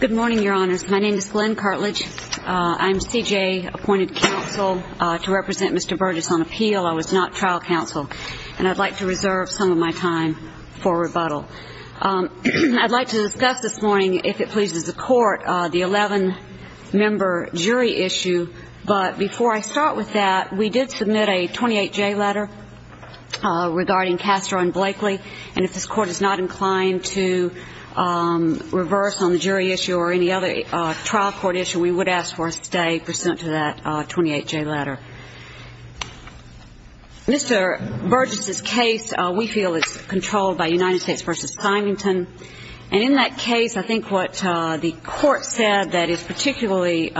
Good morning, Your Honors. My name is Glenn Cartlidge. I'm C.J.'s appointed counsel to represent Mr. Burgess on appeal. I was not trial counsel, and I'd like to reserve some of my time for rebuttal. I'd like to discuss this morning, if it pleases the Court, the 11-member jury issue, but before I start with that, we did submit a 28-J letter regarding Castro and Blakely, and if this Court is not inclined to reverse on the jury issue or any other trial court issue, we would ask for a stay pursuant to that 28-J letter. Mr. Burgess' case, we feel it's controlled by United States v. Symington, and in that case, I think what the Court said that particularly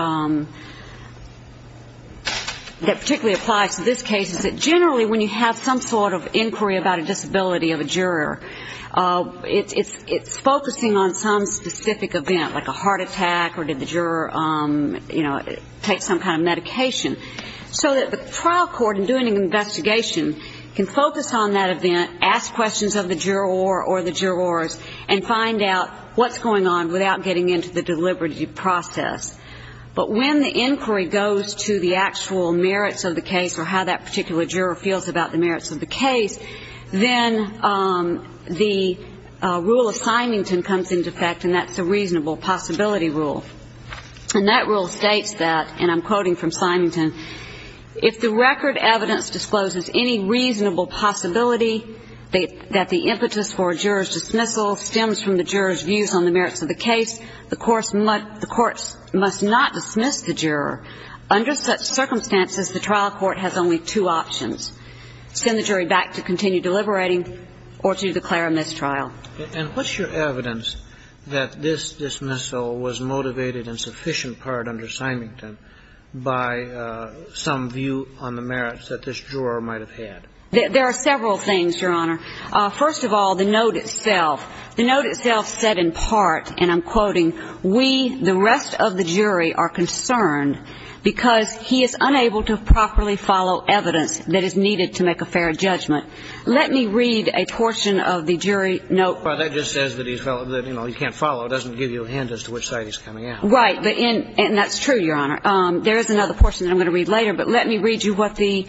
applies to this case is that generally when you have some sort of inquiry about a disability of a juror, it's focusing on some specific event, like a heart attack or did the juror take some kind of medication, so that the trial court in doing an investigation can focus on that event, ask questions of the juror or the jurors, and find out what's going on without getting into the deliberative process. But when the inquiry goes to the actual merits of the case or how that particular juror feels about the merits of the case, then the rule of Symington comes into effect, and that's the reasonable possibility rule. And that rule states that, and I'm quoting from Symington, if the record evidence discloses any reasonable possibility that the impetus for a juror's dismissal stems from the juror's views on the merits of the case, the courts must not dismiss the juror. Under such circumstances, the trial court has only two options, send the jury back to continue deliberating or to declare a mistrial. And what's your evidence that this dismissal was motivated in sufficient part under Symington by some view on the merits that this juror might have had? There are several things, Your Honor. First of all, the note itself. The note itself said in part, and I'm quoting, we, the rest of the jury, are concerned because he is unable to properly follow evidence that is needed to make a fair judgment. Let me read a portion of the jury note. Well, that just says that he's valid, that, you know, he can't follow. It doesn't give you a hint as to which side he's coming out. Right. And that's true, Your Honor. There is another portion that I'm going to read later, but let me read you what the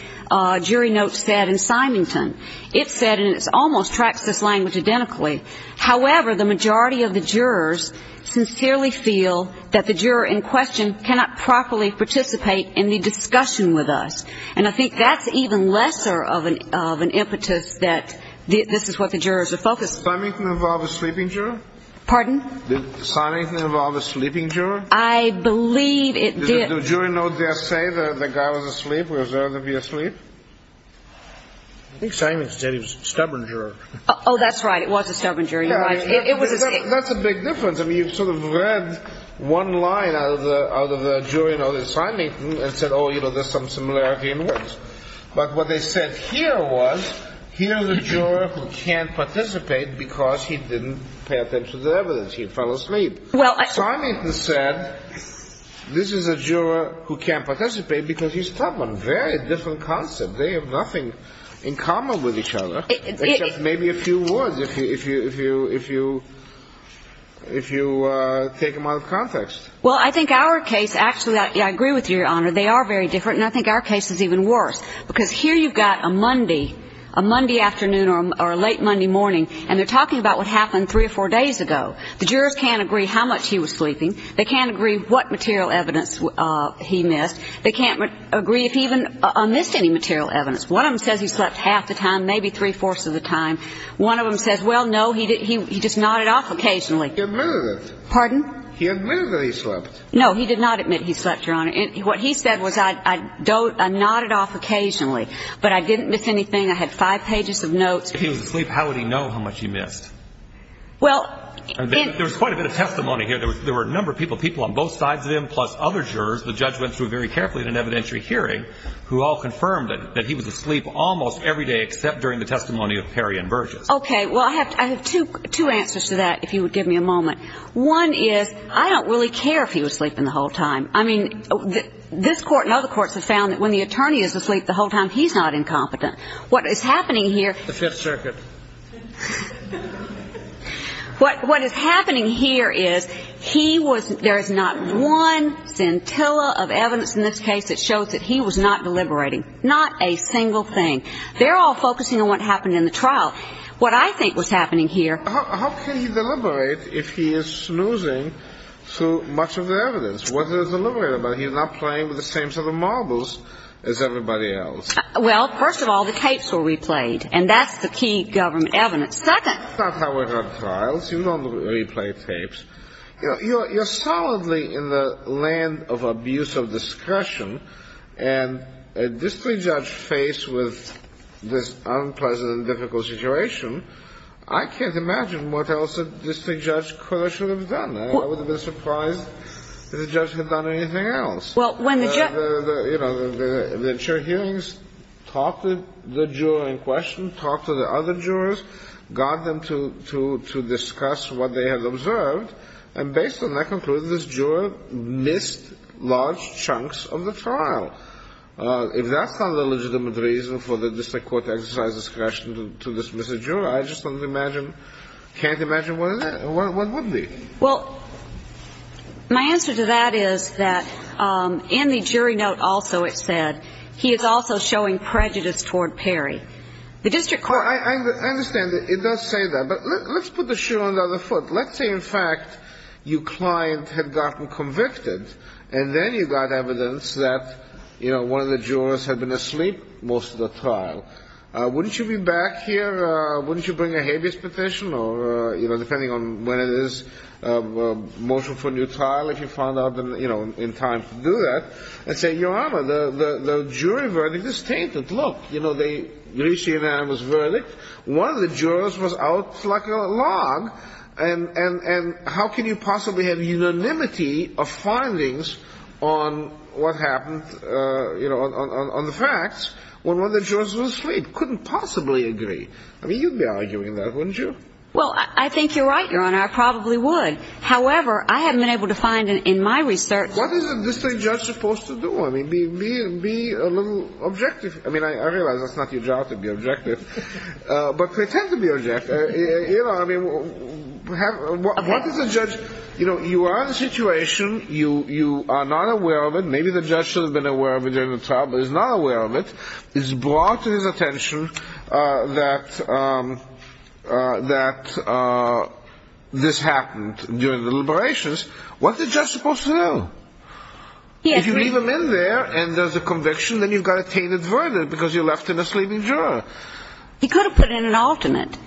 jury note said in Symington. It said, and it almost tracks this language identically, however, the majority of the jurors sincerely feel that the juror in question cannot properly participate in the discussion with us. And I think that's even lesser of an impetus that this is what the jurors are focused on. Did Symington involve a sleeping juror? Pardon? Did Symington involve a sleeping juror? I believe it did. Did the jury note just say that the guy was asleep? Was there to be asleep? I think Symington said he was a stubborn juror. Oh, that's right. It was a stubborn juror. That's a big difference. I mean, you've sort of read one line out of the jury note in Symington and said, oh, you know, there's some similarity in words. But what they said here was, here's a juror who can't participate because he didn't pay attention to the evidence. He fell asleep. Symington said, this is a juror who can't participate because he's stubborn. Very different concept. They have nothing in common with each other, except maybe a few words, if you take them out of context. Well, I think our case, actually, I agree with you, Your Honor. They are very different. And I think our case is even worse. Because here you've got a Monday, a Monday afternoon or a late Monday morning, and they're talking about what happened three or four days ago. The jurors can't agree how much he was sleeping. They can't agree what material evidence he missed. They can't agree if he even missed any material evidence. One of them says he slept half the time, maybe three-fourths of the time. One of them says, well, no, he just nodded off occasionally. He admitted it. Pardon? He admitted that he slept. No, he did not admit he slept, Your Honor. What he said was, I nodded off occasionally. But I didn't miss anything. I had five pages of notes. If he was asleep, how would he know how much he missed? Well, in — There was quite a bit of testimony here. There were a number of people, people on both sides of him, plus other jurors. The judge went through very carefully in an evidentiary hearing, who all confirmed that he was asleep almost every day except during the testimony of Perry and Burgess. Okay. Well, I have two answers to that, if you would give me a moment. One is, I don't really care if he was sleeping the whole time. I mean, this Court and other courts have found that when the attorney is asleep the whole time, he's not incompetent. What is happening here — The Fifth Circuit. What is happening here is, he was — there is not one scintilla of evidence in this case that shows that he was not deliberating. Not a single thing. They're all focusing on what happened in the trial. What I think was happening here — How can he deliberate if he is snoozing through much of the evidence? What is there to deliberate about? He's not playing with the same set of marbles as everybody else. Well, first of all, the tapes were replayed. And that's the key government evidence. Second — That's not how it is on trials. You don't replay tapes. You know, you're solidly in the land of abuse of discretion, and a district judge faced with this unpleasant and difficult situation, I can't imagine what else a district judge could or should have done. I wouldn't have been surprised if the judge had done anything else. Well, when the judge — You know, the jury hearings talked to the juror in question, talked to the other jurors, got them to discuss what they had observed, and based on that conclusion, this juror missed large chunks of the trial. If that's not a legitimate reason for the district court to exercise discretion to dismiss a juror, I just don't imagine — can't imagine what would be. Well, my answer to that is that in the jury note also it said, he is also showing prejudice toward Perry. The district court — I understand that. It does say that. But let's put the shoe on the other foot. Let's say, in fact, your client had gotten convicted, and then you got evidence that, you know, one of the jurors had been asleep most of the trial. Wouldn't you be back here? Wouldn't you bring a habeas petition or, you know, depending on when it is, motion for a new trial, if you find out, you know, in time to do that, and say, Your Honor, the jury verdict is tainted. Look, you know, they reached the unanimous verdict. One of the jurors was out flucking along. And how can you possibly have unanimity of findings on what happened, you know, on the facts when one of the jurors was asleep? You couldn't possibly agree. I mean, you'd be arguing that, wouldn't you? Well, I think you're right, Your Honor. I probably would. However, I haven't been able to find in my research — What is a district judge supposed to do? I mean, be a little objective. I mean, I realize that's not your job, to be objective. But pretend to be objective. You know, I mean, what does a judge — you know, you are in a situation, you are not aware of it. Maybe the judge should have been aware of it during the trial, but is not aware of it. It's brought to his attention that this happened during the deliberations. What's a judge supposed to do? If you leave him in there and there's a conviction, then you've got a tainted verdict because you left him asleep in jail. He could have put in an alternate.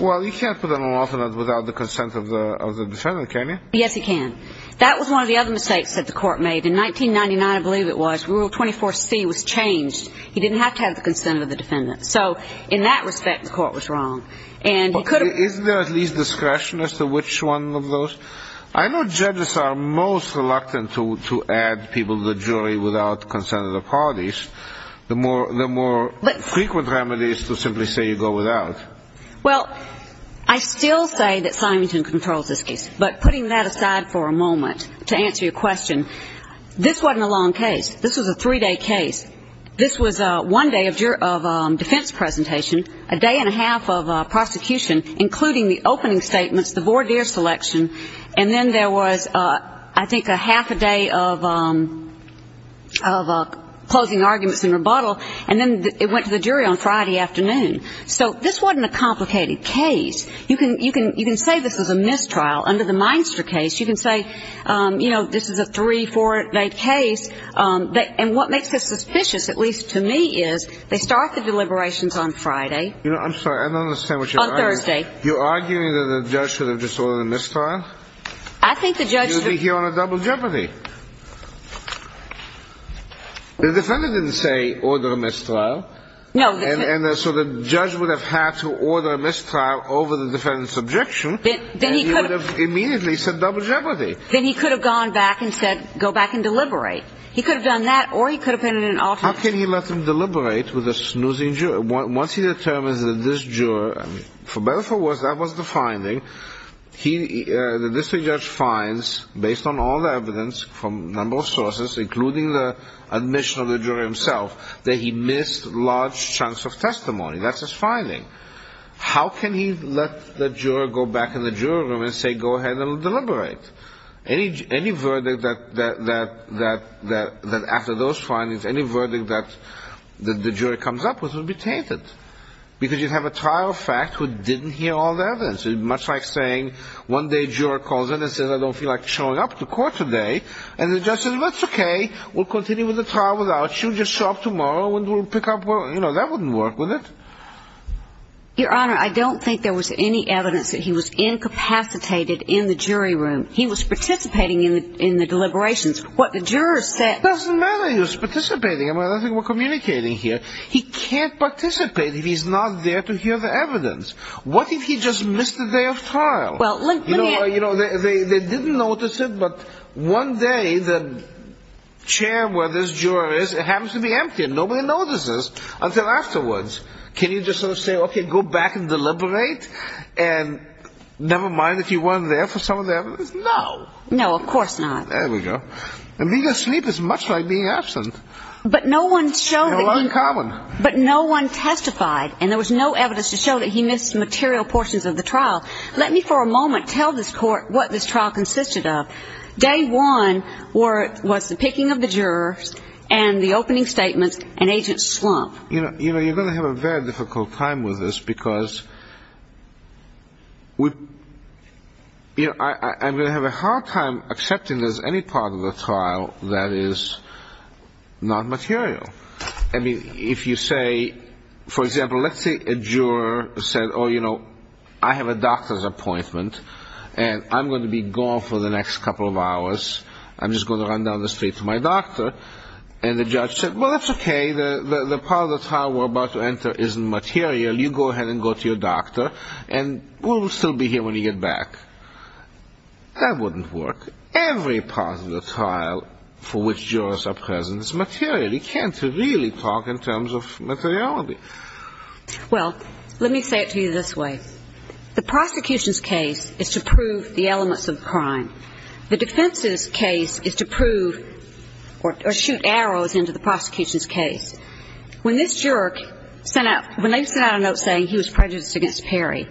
Well, you can't put in an alternate without the consent of the defendant, can you? Yes, he can. That was one of the other mistakes that the court made. In 1999, I believe it was, Rule 24C was changed. He didn't have to have the consent of the defendant. So in that respect, the court was wrong. And he could have — Isn't there at least discretion as to which one of those? I know judges are most reluctant to add people to the jury without the consent of the parties. The more frequent remedy is to simply say you go without. Well, I still say that Symington controls this case. But putting that aside for a moment to answer your question, this wasn't a long case. This was a three-day case. This was one day of defense presentation, a day and a half of prosecution, including the opening statements, the voir dire selection. And then there was, I think, a half a day of closing arguments and rebuttal. And then it went to the jury on Friday afternoon. So this wasn't a complicated case. You can say this was a mistrial under the Meinster case. You can say, you know, this is a three-, four-day case. And what makes it suspicious, at least to me, is they start the deliberations on Friday. You know, I'm sorry. I don't understand what you're arguing. On Thursday. You're arguing that the judge should have just ordered a mistrial? I think the judge — You'll be here on a double jeopardy. The defendant didn't say order a mistrial. No, the — And so the judge would have had to order a mistrial over the defendant's objection. Then he could have — And he would have immediately said double jeopardy. Then he could have gone back and said, go back and deliberate. He could have done that, or he could have been in an alternate — How can he let them deliberate with a snoozing juror? Once he determines that this juror — for better or for worse, that was the finding. He — the district judge finds, based on all the evidence from a number of sources, including the admission of the juror himself, that he missed large chunks of testimony. That's his finding. How can he let the juror go back in the juror room and say, go ahead and deliberate? Any verdict that — after those findings, any verdict that the juror comes up with would be tainted. Because you'd have a trial fact who didn't hear all the evidence. It's much like saying, one day a juror calls in and says, I don't feel like showing up to court today. And the judge says, that's okay. We'll continue with the trial without you. Just show up tomorrow and we'll pick up — you know, that wouldn't work with it. Your Honor, I don't think there was any evidence that he was incapacitated in the jury room. He was participating in the deliberations. What the jurors said — It doesn't matter he was participating. I mean, I don't think we're communicating here. He can't participate if he's not there to hear the evidence. What if he just missed the day of trial? Well, look — You know, they didn't notice it, but one day the chair where this juror is, it happens to be empty. And nobody notices until afterwards. Can you just sort of say, okay, go back and deliberate? And never mind if he wasn't there for some of the evidence? No. No, of course not. There we go. And being asleep is much like being absent. But no one showed — They were in common. But no one testified. And there was no evidence to show that he missed material portions of the trial. Let me for a moment tell this court what this trial consisted of. Day one was the picking of the jurors and the opening statements and Agent Slump. You know, you're going to have a very difficult time with this because we — You know, I'm going to have a hard time accepting there's any part of the trial that is not material. I mean, if you say — For example, let's say a juror said, oh, you know, I have a doctor's appointment, and I'm going to be gone for the next couple of hours. I'm just going to run down the street to my doctor. And the judge said, well, that's okay. The part of the trial we're about to enter isn't material. You go ahead and go to your doctor, and we'll still be here when you get back. That wouldn't work. Every part of the trial for which jurors are present is material. You can't really talk in terms of materiality. Well, let me say it to you this way. The prosecution's case is to prove the elements of the crime. The defense's case is to prove — or shoot arrows into the prosecution's case. When this juror sent out — when they sent out a note saying he was prejudiced against Perry,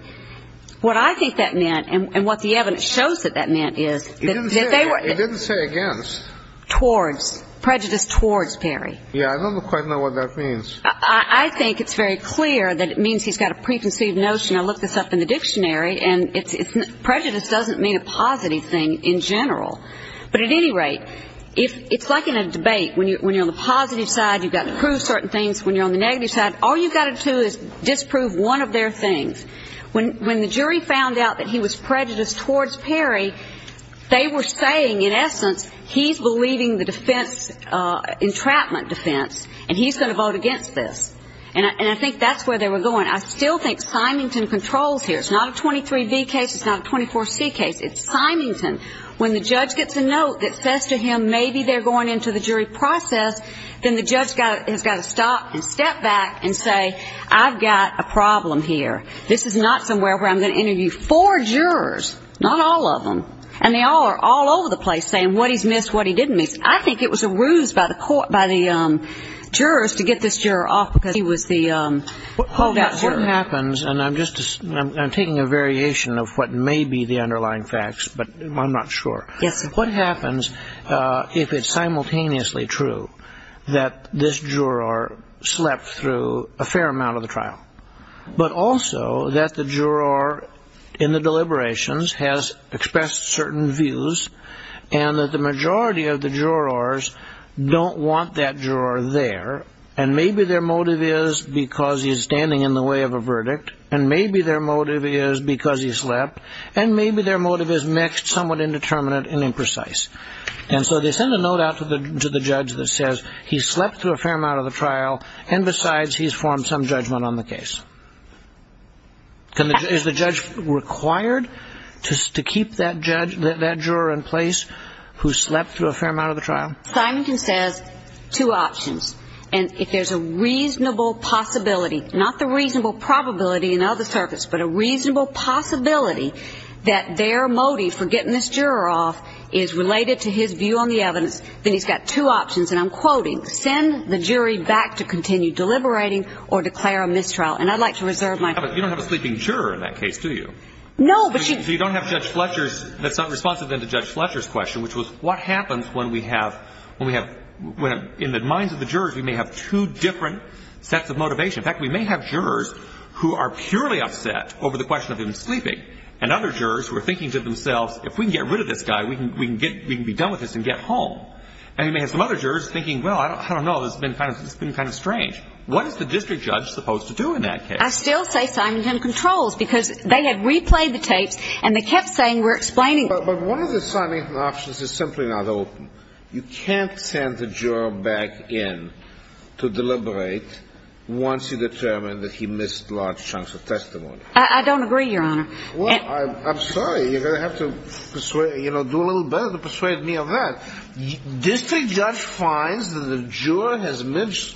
what I think that meant and what the evidence shows that that meant is — It didn't say — it didn't say against. Towards. Prejudice towards Perry. Yeah, I don't quite know what that means. I think it's very clear that it means he's got a preconceived notion. I looked this up in the dictionary, and prejudice doesn't mean a positive thing in general. But at any rate, it's like in a debate. When you're on the positive side, you've got to prove certain things. When you're on the negative side, all you've got to do is disprove one of their things. When the jury found out that he was prejudiced towards Perry, they were saying, in essence, he's believing the defense — entrapment defense, and he's going to vote against this. And I think that's where they were going. I still think Symington controls here. It's not a 23B case. It's not a 24C case. It's Symington. When the judge gets a note that says to him maybe they're going into the jury process, then the judge has got to stop and step back and say, I've got a problem here. This is not somewhere where I'm going to interview four jurors, not all of them, and they all are all over the place saying what he's missed, what he didn't miss. I think it was a ruse by the jurors to get this juror off because he was the holdout juror. What happens — and I'm taking a variation of what may be the underlying facts, but I'm not sure. Yes, sir. What happens if it's simultaneously true that this juror slept through a fair amount of the trial, but also that the juror in the deliberations has expressed certain views and that the majority of the jurors don't want that juror there, and maybe their motive is because he's standing in the way of a verdict, and maybe their motive is because he slept, and maybe their motive is mixed, somewhat indeterminate and imprecise. And so they send a note out to the judge that says he slept through a fair amount of the trial, and besides, he's formed some judgment on the case. Is the judge required to keep that juror in place who slept through a fair amount of the trial? Simonton says two options. And if there's a reasonable possibility, not the reasonable probability in other circuits, but a reasonable possibility that their motive for getting this juror off is related to his view on the evidence, then he's got two options. And I'm quoting, send the jury back to continue deliberating or declare a mistrial. And I'd like to reserve my time. But you don't have a sleeping juror in that case, do you? No, but she – So you don't have Judge Fletcher's – that's not responsive then to Judge Fletcher's question, which was what happens when we have – when we have – in the minds of the jurors, we may have two different sets of motivation. In fact, we may have jurors who are purely upset over the question of him sleeping and other jurors who are thinking to themselves, if we can get rid of this guy, we can get – we can be done with this and get home. And we may have some other jurors thinking, well, I don't know, this has been kind of strange. What is the district judge supposed to do in that case? I still say Simonton controls because they had replayed the tapes and they kept saying we're explaining – But one of the Simonton options is simply not open. You can't send the juror back in to deliberate once you determine that he missed large chunks of testimony. I don't agree, Your Honor. Well, I'm sorry. You're going to have to persuade – you know, do a little better to persuade me of that. District judge finds that the juror has missed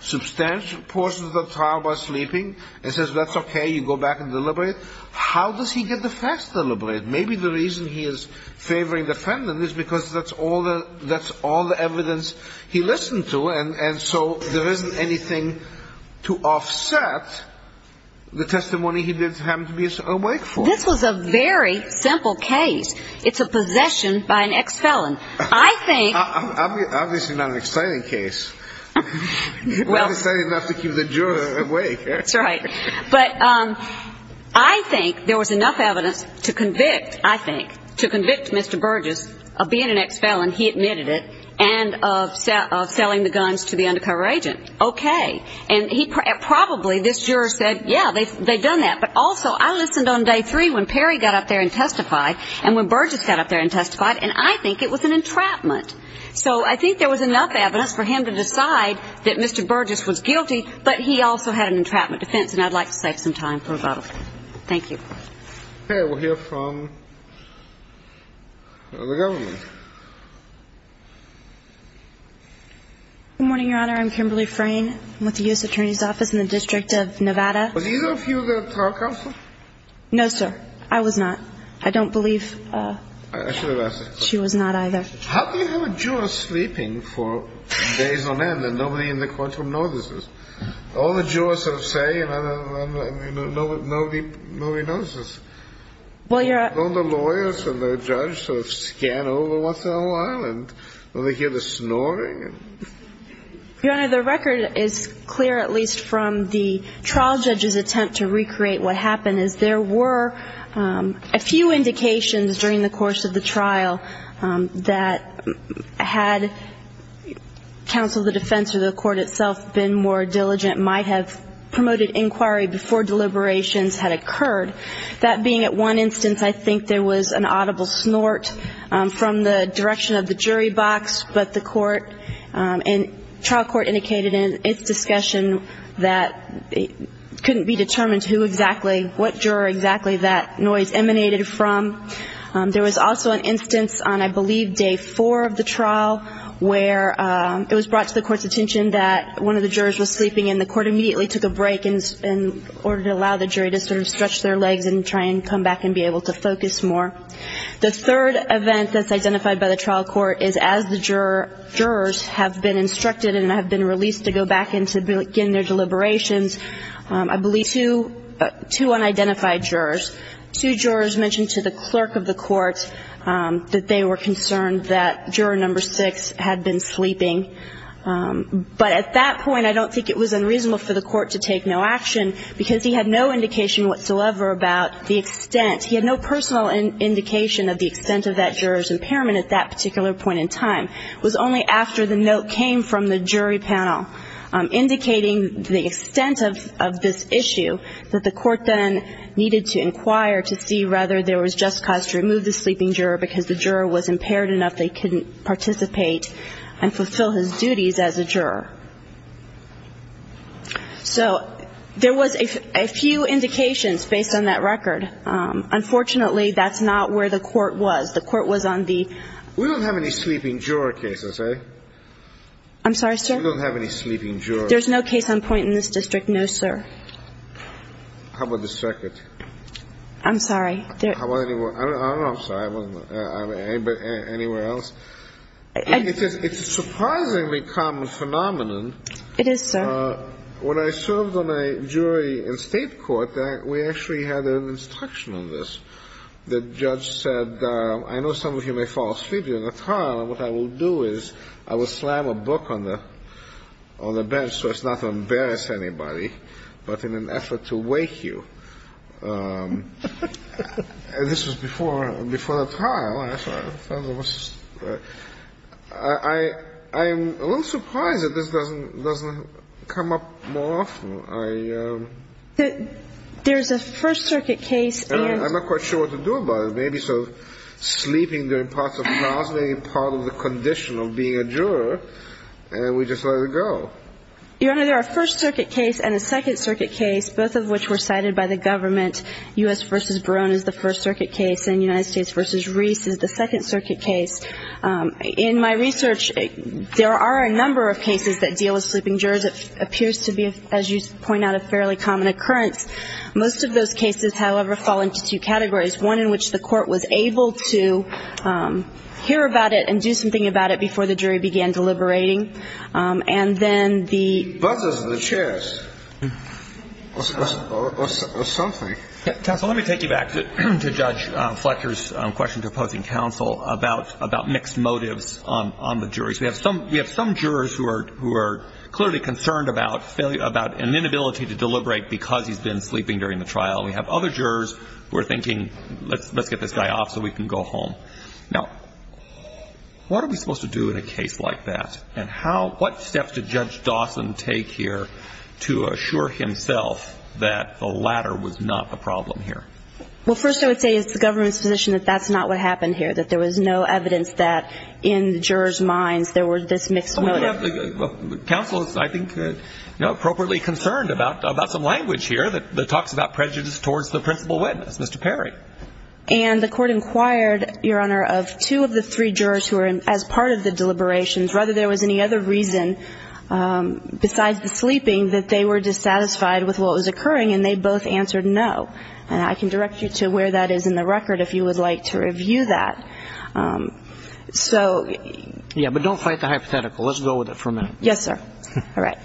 substantial portions of the trial by sleeping and says that's okay, you go back and deliberate. How does he get the facts deliberate? Maybe the reason he is favoring defendant is because that's all the – that's all the evidence he listened to. And so there isn't anything to offset the testimony he did happen to be awake for. This was a very simple case. It's a possession by an ex-felon. I think – Obviously not an exciting case. Not exciting enough to keep the juror awake. That's right. But I think there was enough evidence to convict, I think, to convict Mr. Burgess of being an ex-felon, he admitted it, and of selling the guns to the undercover agent. Okay. And probably this juror said, yeah, they've done that. But also I listened on day three when Perry got up there and testified and when Burgess got up there and testified, and I think it was an entrapment. So I think there was enough evidence for him to decide that Mr. Burgess was guilty, but he also had an entrapment defense, and I'd like to save some time for about a minute. Thank you. Okay. We'll hear from the government. Good morning, Your Honor. I'm Kimberly Frayne. I'm with the U.S. Attorney's Office in the District of Nevada. Was either of you the trial counsel? No, sir. I was not. I don't believe she was not either. How can you have a juror sleeping for days on end and nobody in the courtroom notices? All the jurors sort of say, and nobody notices. Don't the lawyers and the judge sort of scan over what's going on? Don't they hear the snoring? Your Honor, the record is clear, at least from the trial judge's attempt to recreate what happened, is there were a few indications during the course of the trial that had counsel of the defense or the court itself been more diligent, might have promoted inquiry before deliberations had occurred. That being at one instance, I think there was an audible snort from the direction of the jury box, but the court and trial court indicated in its discussion that it couldn't be determined who exactly, what juror exactly that noise emanated from. There was also an instance on, I believe, day four of the trial where it was brought to the court's attention that one of the jurors was sleeping and the court immediately took a break in order to allow the jury to sort of stretch their legs and try and come back and be able to focus more. The third event that's identified by the trial court is as the jurors have been instructed and have been released to go back in to begin their deliberations, I believe two unidentified jurors, two jurors mentioned to the clerk of the court that they were concerned that juror number six had been sleeping. But at that point, I don't think it was unreasonable for the court to take no action because he had no indication whatsoever about the extent. He had no personal indication of the extent of that juror's impairment at that particular point in time. It was only after the note came from the jury panel indicating the extent of this issue that the court then needed to inquire to see whether there was just cause to remove the sleeping juror because the juror was impaired enough they couldn't participate and fulfill his duties as a juror. So there was a few indications based on that record. Unfortunately, that's not where the court was. The court was on the ‑‑ We don't have any sleeping juror cases, eh? I'm sorry, sir? We don't have any sleeping jurors. There's no case on point in this district, no, sir. How about this circuit? I'm sorry. I don't know. I'm sorry. Anywhere else? It's a surprisingly common phenomenon. It is, sir. When I served on a jury in state court, we actually had an instruction on this. The judge said, I know some of you may fall asleep during the trial, and what I will do is I will slam a book on the bench so as not to embarrass anybody, but in an effort to wake you. This was before the trial. I'm a little surprised that this doesn't come up more often. There's a First Circuit case and ‑‑ I'm not quite sure what to do about it. Maybe sort of sleeping during parts of the trial is maybe part of the condition of being a juror, and we just let it go. Your Honor, there are a First Circuit case and a Second Circuit case, both of which were cited by the government. U.S. v. Barone is the First Circuit case, and United States v. Reese is the Second Circuit case. In my research, there are a number of cases that deal with sleeping jurors. It appears to be, as you point out, a fairly common occurrence. Most of those cases, however, fall into two categories, one in which the court was able to hear about it and do something about it before the jury began deliberating, and then the ‑‑ he buzzes the chairs or something. Counsel, let me take you back to Judge Fletcher's question to opposing counsel about mixed motives on the jurors. We have some jurors who are clearly concerned about an inability to deliberate because he's been sleeping during the trial. We have other jurors who are thinking, let's get this guy off so we can go home. Now, what are we supposed to do in a case like that? And what steps did Judge Dawson take here to assure himself that the latter was not the problem here? Well, first I would say as the government's position that that's not what happened here, that there was no evidence that in the jurors' minds there were this mixed motive. Counsel is, I think, appropriately concerned about some language here that talks about prejudice towards the principal witness, Mr. Perry. And the court inquired, Your Honor, of two of the three jurors who were, as part of the deliberations, whether there was any other reason besides the sleeping that they were dissatisfied with what was occurring, and they both answered no. And I can direct you to where that is in the record if you would like to review that. So ‑‑ Yeah, but don't fight the hypothetical. Let's go with it for a minute. Yes, sir. All right.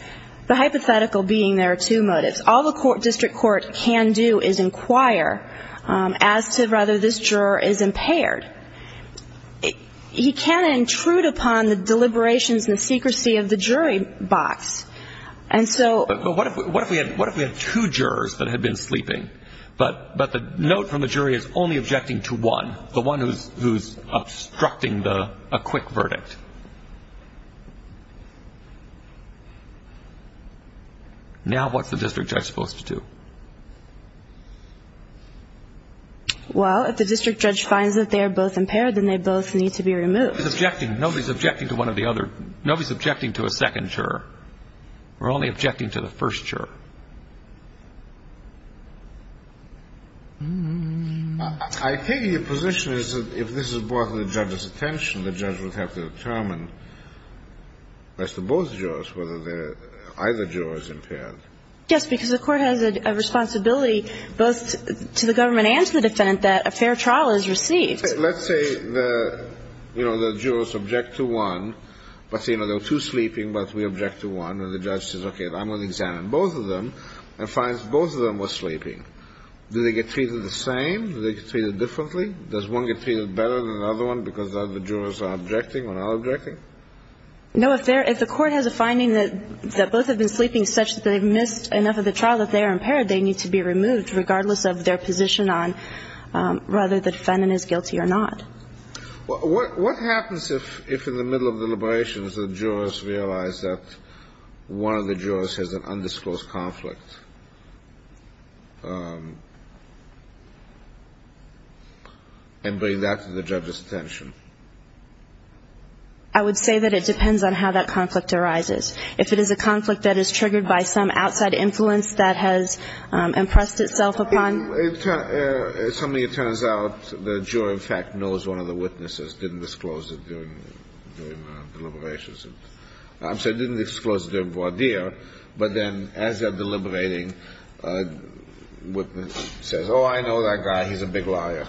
The hypothetical being there are two motives. All the district court can do is inquire as to whether this juror is impaired. He can intrude upon the deliberations and secrecy of the jury box. And so ‑‑ But what if we had two jurors that had been sleeping, but the note from the jury is only objecting to one, the one who's obstructing a quick verdict? Now what's the district judge supposed to do? Well, if the district judge finds that they are both impaired, then they both need to be removed. He's objecting. Nobody's objecting to one or the other. Nobody's objecting to a second juror. We're only objecting to the first juror. I take it your position is that if this is brought to the judge's attention, the judge would have to determine as to both jurors whether either juror is impaired. Yes, because the court has a responsibility both to the government and to the defendant that a fair trial is received. Let's say the, you know, the jurors object to one, but, you know, there were two sleeping, but we object to one, and the judge says, okay, I'm going to examine both of them and finds both of them were sleeping. Do they get treated the same? Do they get treated differently? Does one get treated better than the other one because the other jurors are objecting when I'm objecting? No, if the court has a finding that both have been sleeping such that they've missed enough of the trial that they are impaired, they need to be removed regardless of their position on whether the defendant is guilty or not. What happens if, in the middle of deliberations, the jurors realize that one of the jurors has an undisclosed conflict and bring that to the judge's attention? I would say that it depends on how that conflict arises. If it is a conflict that is triggered by some outside influence that has impressed itself upon It's something that turns out the juror, in fact, knows one of the witnesses, didn't disclose it during deliberations. I'm sorry, didn't disclose it during voir dire, but then as they're deliberating, a witness says, oh, I know that guy, he's a big liar.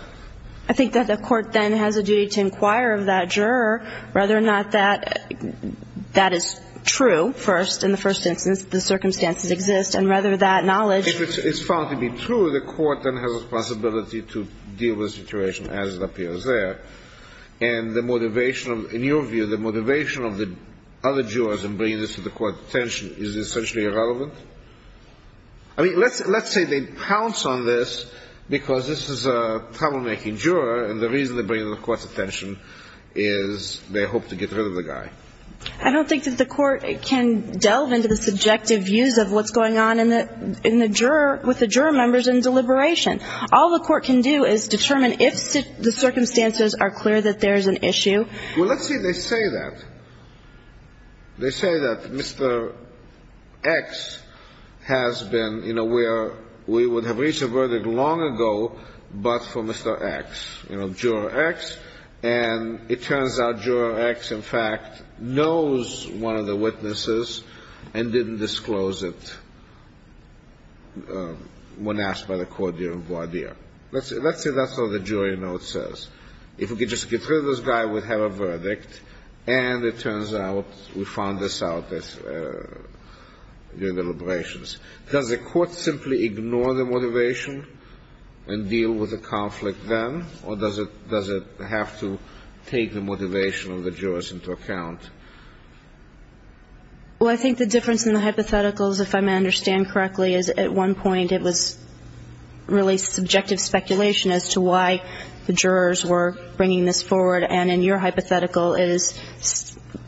I think that the court then has a duty to inquire of that juror whether or not that is true, first, in the first instance, the circumstances exist, and whether that knowledge If it's found to be true, the court then has a possibility to deal with the situation as it appears there. And the motivation, in your view, the motivation of the other jurors in bringing this to the court's attention is essentially irrelevant? I mean, let's say they pounce on this because this is a troublemaking juror, and the reason they bring it to the court's attention is they hope to get rid of the guy. I don't think that the court can delve into the subjective views of what's going on in the juror, with the juror members in deliberation. All the court can do is determine if the circumstances are clear that there is an issue. Well, let's say they say that. They say that Mr. X has been, you know, where we would have reached a verdict long ago, but for Mr. X. You know, juror X, and it turns out juror X, in fact, knows one of the witnesses and didn't disclose it when asked by the court during voir dire. Let's say that's what the jury note says. If we could just get rid of this guy, we'd have a verdict, and it turns out we found this out during the deliberations. Does the court simply ignore the motivation and deal with the conflict then, or does it have to take the motivation of the jurors into account? Well, I think the difference in the hypotheticals, if I may understand correctly, is at one point it was really subjective speculation as to why the jurors were bringing this forward. And in your hypothetical, it is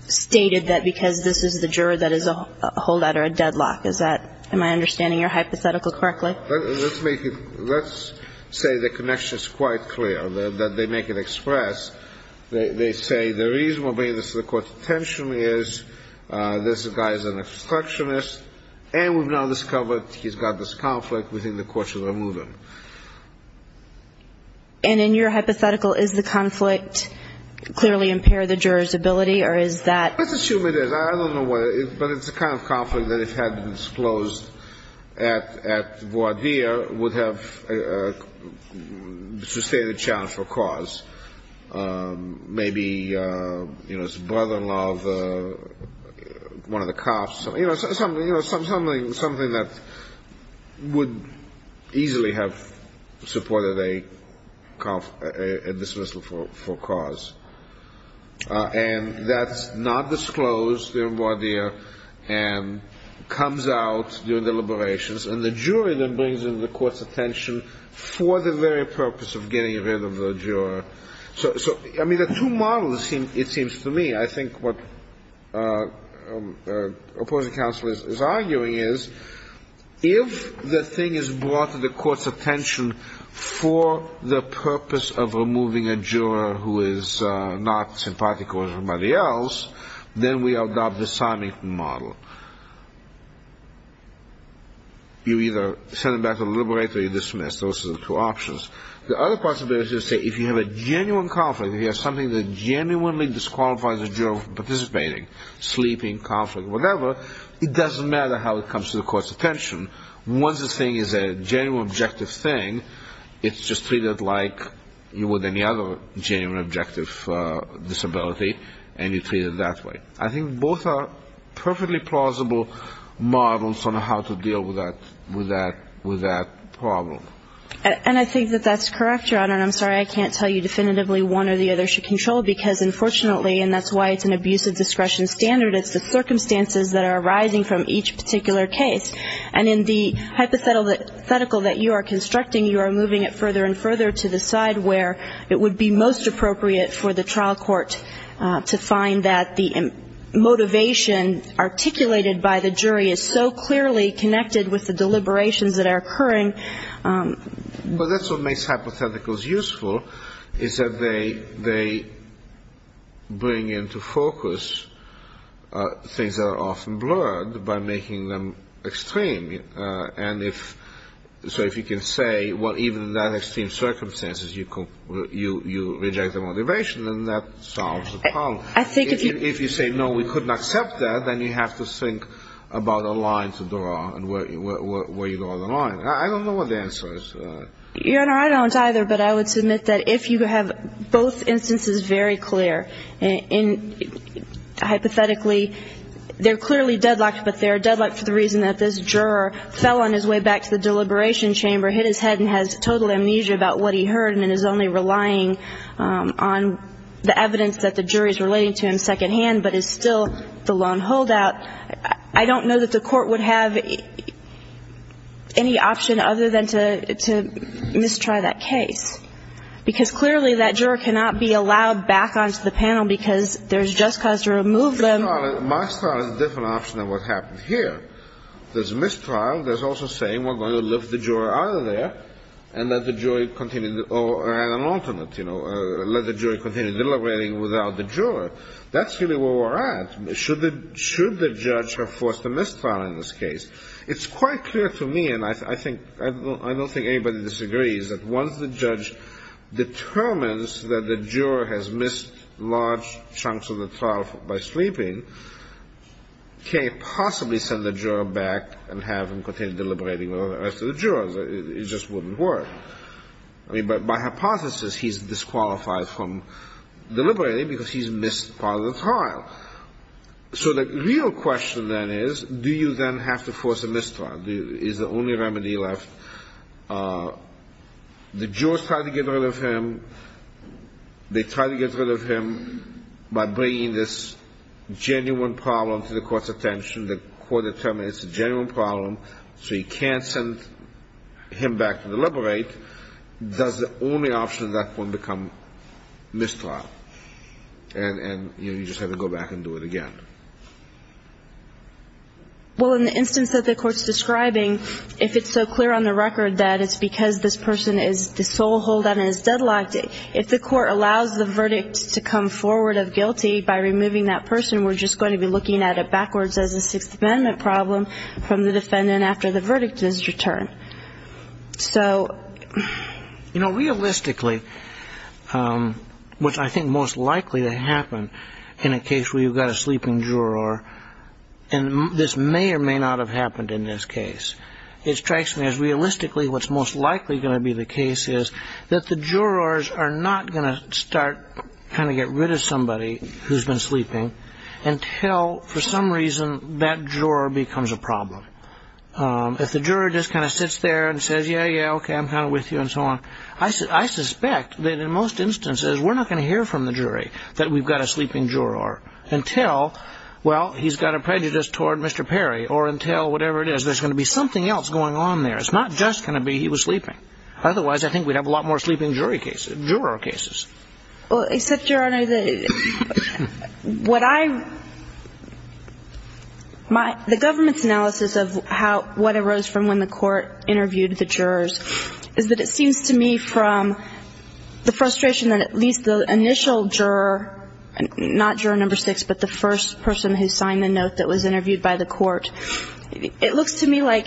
stated that because this is the juror, that is a holdout or a deadlock. Is that my understanding your hypothetical correctly? Let's say the connection is quite clear, that they make it express. They say the reason we're bringing this to the court intentionally is this guy is an obstructionist, and we've now discovered he's got this conflict. We think the court should remove him. And in your hypothetical, is the conflict clearly impair the juror's ability, or is that? Let's assume it is. I don't know why. But it's the kind of conflict that if had been disclosed at voir dire, would have sustained a challenge for cause. Maybe, you know, his brother-in-law, one of the cops, you know, something that would easily have supported a dismissal for cause. And that's not disclosed in voir dire and comes out during deliberations, and the jury then brings it to the court's attention for the very purpose of getting rid of the juror. So, I mean, the two models, it seems to me, I think what opposing counsel is arguing is, if the thing is brought to the court's attention for the purpose of removing a juror who is not sympathetic or somebody else, then we adopt the Simon model. You either send him back to the liberator, you dismiss. Those are the two options. The other possibility is to say, if you have a genuine conflict, if you have something that genuinely disqualifies a juror from participating, sleeping, conflict, whatever, it doesn't matter how it comes to the court's attention. Once the thing is a genuine, objective thing, it's just treated like you would any other genuine, objective disability, and you treat it that way. I think both are perfectly plausible models on how to deal with that problem. And I think that that's correct, Your Honor. And I'm sorry I can't tell you definitively one or the other should control, because unfortunately, and that's why it's an abuse of discretion standard, it's the circumstances that are arising from each particular case. And in the hypothetical that you are constructing, you are moving it further and further to the side where it would be most appropriate for the trial court to find that the motivation articulated by the jury is so clearly connected with the deliberations that are occurring. But that's what makes hypotheticals useful, is that they bring into focus things that are often blurred by making them extreme. And so if you can say, well, even in that extreme circumstances, you reject the motivation, then that solves the problem. If you say, no, we couldn't accept that, then you have to think about a line to draw and where you draw the line. I don't know what the answer is to that. Your Honor, I don't either. But I would submit that if you have both instances very clear, and hypothetically they're clearly deadlocked, but they're deadlocked for the reason that this juror fell on his way back to the deliberation chamber, hit his head and has total amnesia about what he heard and is only relying on the evidence that the jury is relating to him secondhand, but is still the lone holdout, I don't know that the court would have any option other than to mistry that case. Because clearly that juror cannot be allowed back onto the panel because there's just cause to remove them. My style is a different option than what happened here. There's mistrial. There's also saying we're going to lift the juror out of there and let the jury continue or an alternate, you know, let the jury continue deliberating without the juror. That's really where we're at. Should the judge have forced a mistrial in this case, it's quite clear to me, and I don't think anybody disagrees, that once the judge determines that the juror has missed large chunks of the trial by sleeping, can't possibly send the juror back and have him continue deliberating with the rest of the jurors. It just wouldn't work. I mean, by hypothesis he's disqualified from deliberating because he's missed part of the trial. So the real question then is, do you then have to force a mistrial? Is the only remedy left? The jurors try to get rid of him. They try to get rid of him by bringing this genuine problem to the court's attention. The court determines it's a genuine problem, so you can't send him back to deliberate. Does the only option at that point become mistrial? And, you know, you just have to go back and do it again. Well, in the instance that the court's describing, if it's so clear on the record that it's because this person is the sole holdout and is deadlocked, if the court allows the verdict to come forward of guilty by removing that person, we're just going to be looking at it backwards as a Sixth Amendment problem from the defendant after the verdict is returned. So... You know, realistically, what I think is most likely to happen in a case where you've got a sleeping juror, and this may or may not have happened in this case, it strikes me as realistically what's most likely going to be the case is that the jurors are not going to start trying to get rid of somebody who's been sleeping, until, for some reason, that juror becomes a problem. If the juror just kind of sits there and says, yeah, yeah, okay, I'm kind of with you, and so on, I suspect that, in most instances, we're not going to hear from the jury that we've got a sleeping juror until, well, he's got a prejudice toward Mr. Perry, or until whatever it is. There's going to be something else going on there. It's not just going to be he was sleeping. Otherwise, I think we'd have a lot more sleeping juror cases. Well, except, Your Honor, that what I my the government's analysis of how what arose from when the court interviewed the jurors is that it seems to me from the frustration that at least the initial juror, not juror number six, but the first person who signed the note that was interviewed by the court, it looks to me like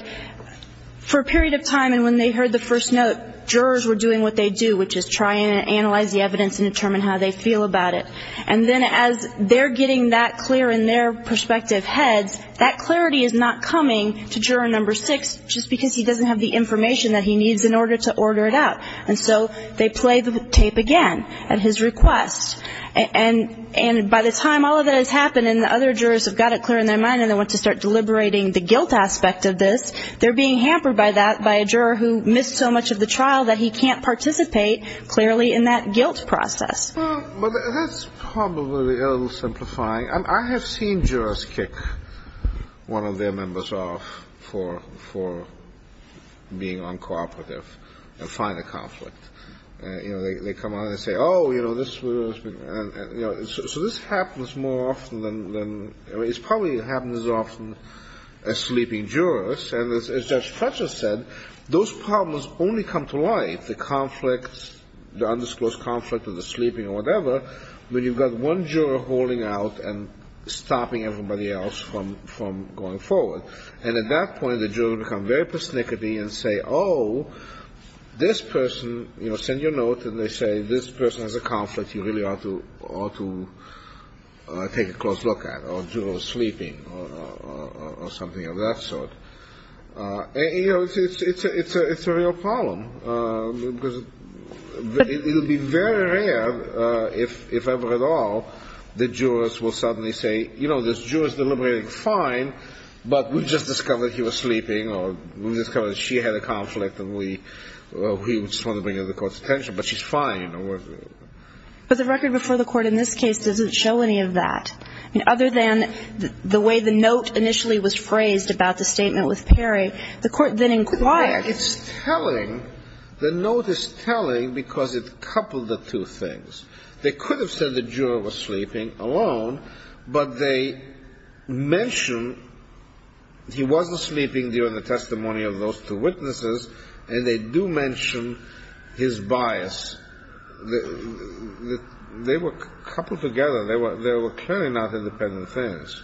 for a period of time, and when they heard the first note, the jurors were doing what they do, which is try and analyze the evidence and determine how they feel about it. And then as they're getting that clear in their prospective heads, that clarity is not coming to juror number six just because he doesn't have the information that he needs in order to order it out. And so they play the tape again at his request. And by the time all of that has happened and the other jurors have got it clear in their mind and they want to start deliberating the guilt aspect of this, they're being hampered by that by a juror who missed so much of the trial that he can't participate clearly in that guilt process. Well, that's probably a little simplifying. I have seen jurors kick one of their members off for being uncooperative and find a conflict. You know, they come on and say, oh, you know, this was, you know. So this happens more often than, I mean, it probably happens as often as sleeping jurors. And as Judge Fletcher said, those problems only come to light, the conflicts, the undisclosed conflict or the sleeping or whatever, when you've got one juror holding out and stopping everybody else from going forward. And at that point, the jurors become very persnickety and say, oh, this person, you know, and they send you a note and they say this person has a conflict you really ought to take a close look at, or the juror is sleeping or something of that sort. You know, it's a real problem because it would be very rare if ever at all the jurors will suddenly say, you know, this juror is deliberating fine, but we just discovered he was sleeping or we discovered she had a conflict and we just wanted to bring it to the Court's attention, but she's fine. But the record before the Court in this case doesn't show any of that. I mean, other than the way the note initially was phrased about the statement with Perry, the Court then inquired. It's telling. The note is telling because it coupled the two things. They could have said the juror was sleeping alone, but they mention he wasn't sleeping during the testimony of those two witnesses and they do mention his bias. They were coupled together. They were clearly not independent things.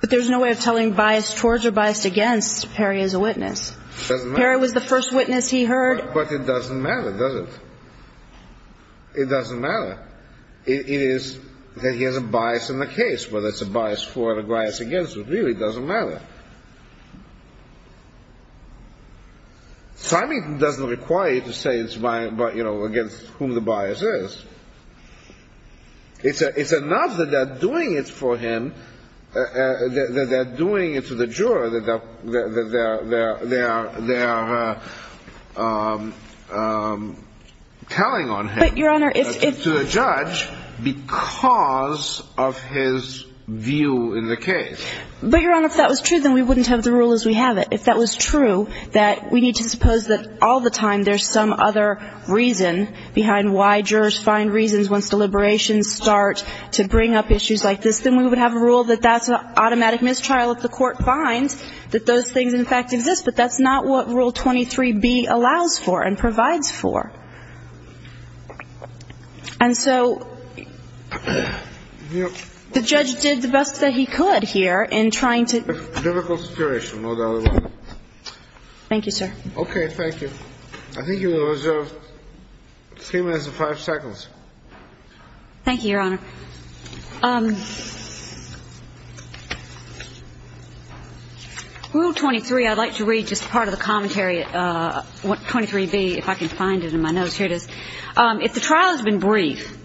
But there's no way of telling bias towards or biased against Perry as a witness. It doesn't matter. Perry was the first witness he heard. But it doesn't matter, does it? It doesn't matter. It is that he has a bias in the case, whether it's a bias for or a bias against him. It really doesn't matter. Simon doesn't require you to say it's against whom the bias is. It's enough that they're doing it for him, that they're doing it to the juror, that they're telling on him to the judge because of his view in the case. But, Your Honor, if that was true, then we wouldn't have the rule as we have it. If that was true, that we need to suppose that all the time there's some other reason behind why jurors find reasons once deliberations start to bring up issues like this, then we would have a rule that that's an automatic mistrial. If the court finds that those things, in fact, exist. But that's not what Rule 23b allows for and provides for. And so the judge did the best that he could here in trying to ---- Difficult situation, no doubt about it. Thank you, sir. Okay. Thank you. I think you have three minutes and five seconds. Thank you, Your Honor. Rule 23, I'd like to read just part of the commentary, 23b, if I can find it in my notes. Here it is. If the trial has been brief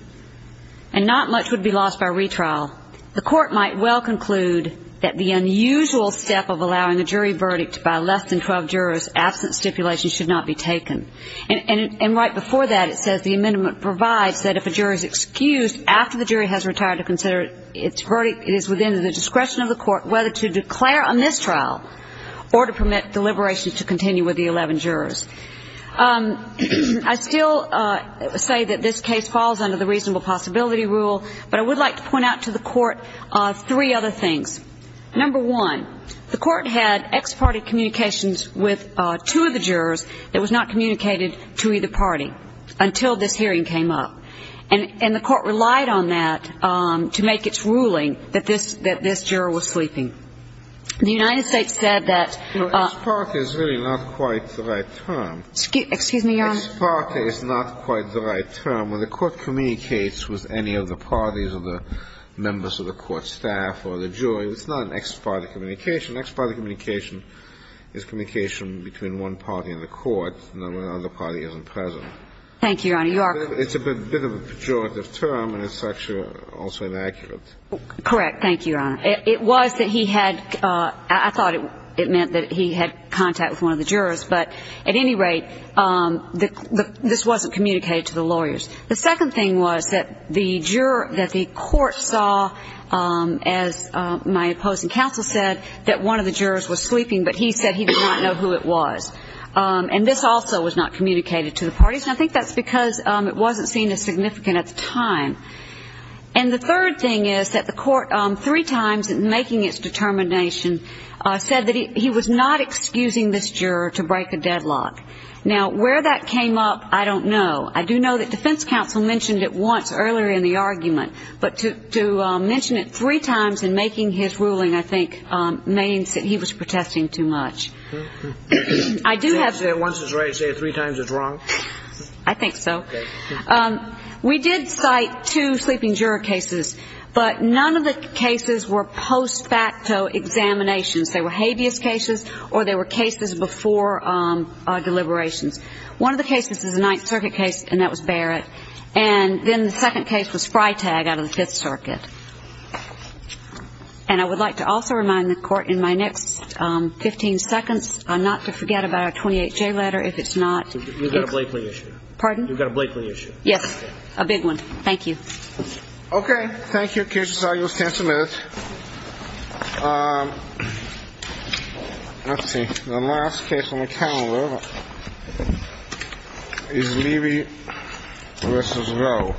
and not much would be lost by retrial, the court might well conclude that the unusual step of allowing a jury verdict by less than 12 jurors absent stipulation should not be taken. And right before that, it says the amendment provides that if a juror is excused after the jury verdict, the jury has retired to consider its verdict is within the discretion of the court whether to declare a mistrial or to permit deliberations to continue with the 11 jurors. I still say that this case falls under the reasonable possibility rule, but I would like to point out to the court three other things. Number one, the court had ex parte communications with two of the jurors. It was not communicated to either party until this hearing came up. And the court relied on that to make its ruling that this juror was sleeping. The United States said that the ex parte is really not quite the right term. Excuse me, Your Honor? Ex parte is not quite the right term. When the court communicates with any of the parties or the members of the court staff or the jury, it's not an ex parte communication. Ex parte communication is communication between one party in the court and another party isn't present. Thank you, Your Honor. It's a bit of a pejorative term, and it's also inaccurate. Correct. Thank you, Your Honor. It was that he had ‑‑ I thought it meant that he had contact with one of the jurors. But at any rate, this wasn't communicated to the lawyers. The second thing was that the juror ‑‑ that the court saw, as my opposing counsel said, that one of the jurors was sleeping, but he said he did not know who it was. And this also was not communicated to the parties. I think that's because it wasn't seen as significant at the time. And the third thing is that the court, three times in making its determination, said that he was not excusing this juror to break a deadlock. Now, where that came up, I don't know. I do know that defense counsel mentioned it once earlier in the argument. But to mention it three times in making his ruling, I think, means that he was protesting too much. I do have to ‑‑ Once it's right, say it three times it's wrong? I think so. Okay. We did cite two sleeping juror cases, but none of the cases were post facto examinations. They were habeas cases or they were cases before deliberations. One of the cases is a Ninth Circuit case, and that was Barrett. And then the second case was Freitag out of the Fifth Circuit. And I would like to also remind the court in my next 15 seconds not to forget about our 28J letter if it's not ‑‑ You've got a Blakely issue. Pardon? You've got a Blakely issue. Yes. A big one. Thank you. Okay. Thank you. The case is all yours, counsel. Let's see. The last case on the calendar is Levy v. Roe.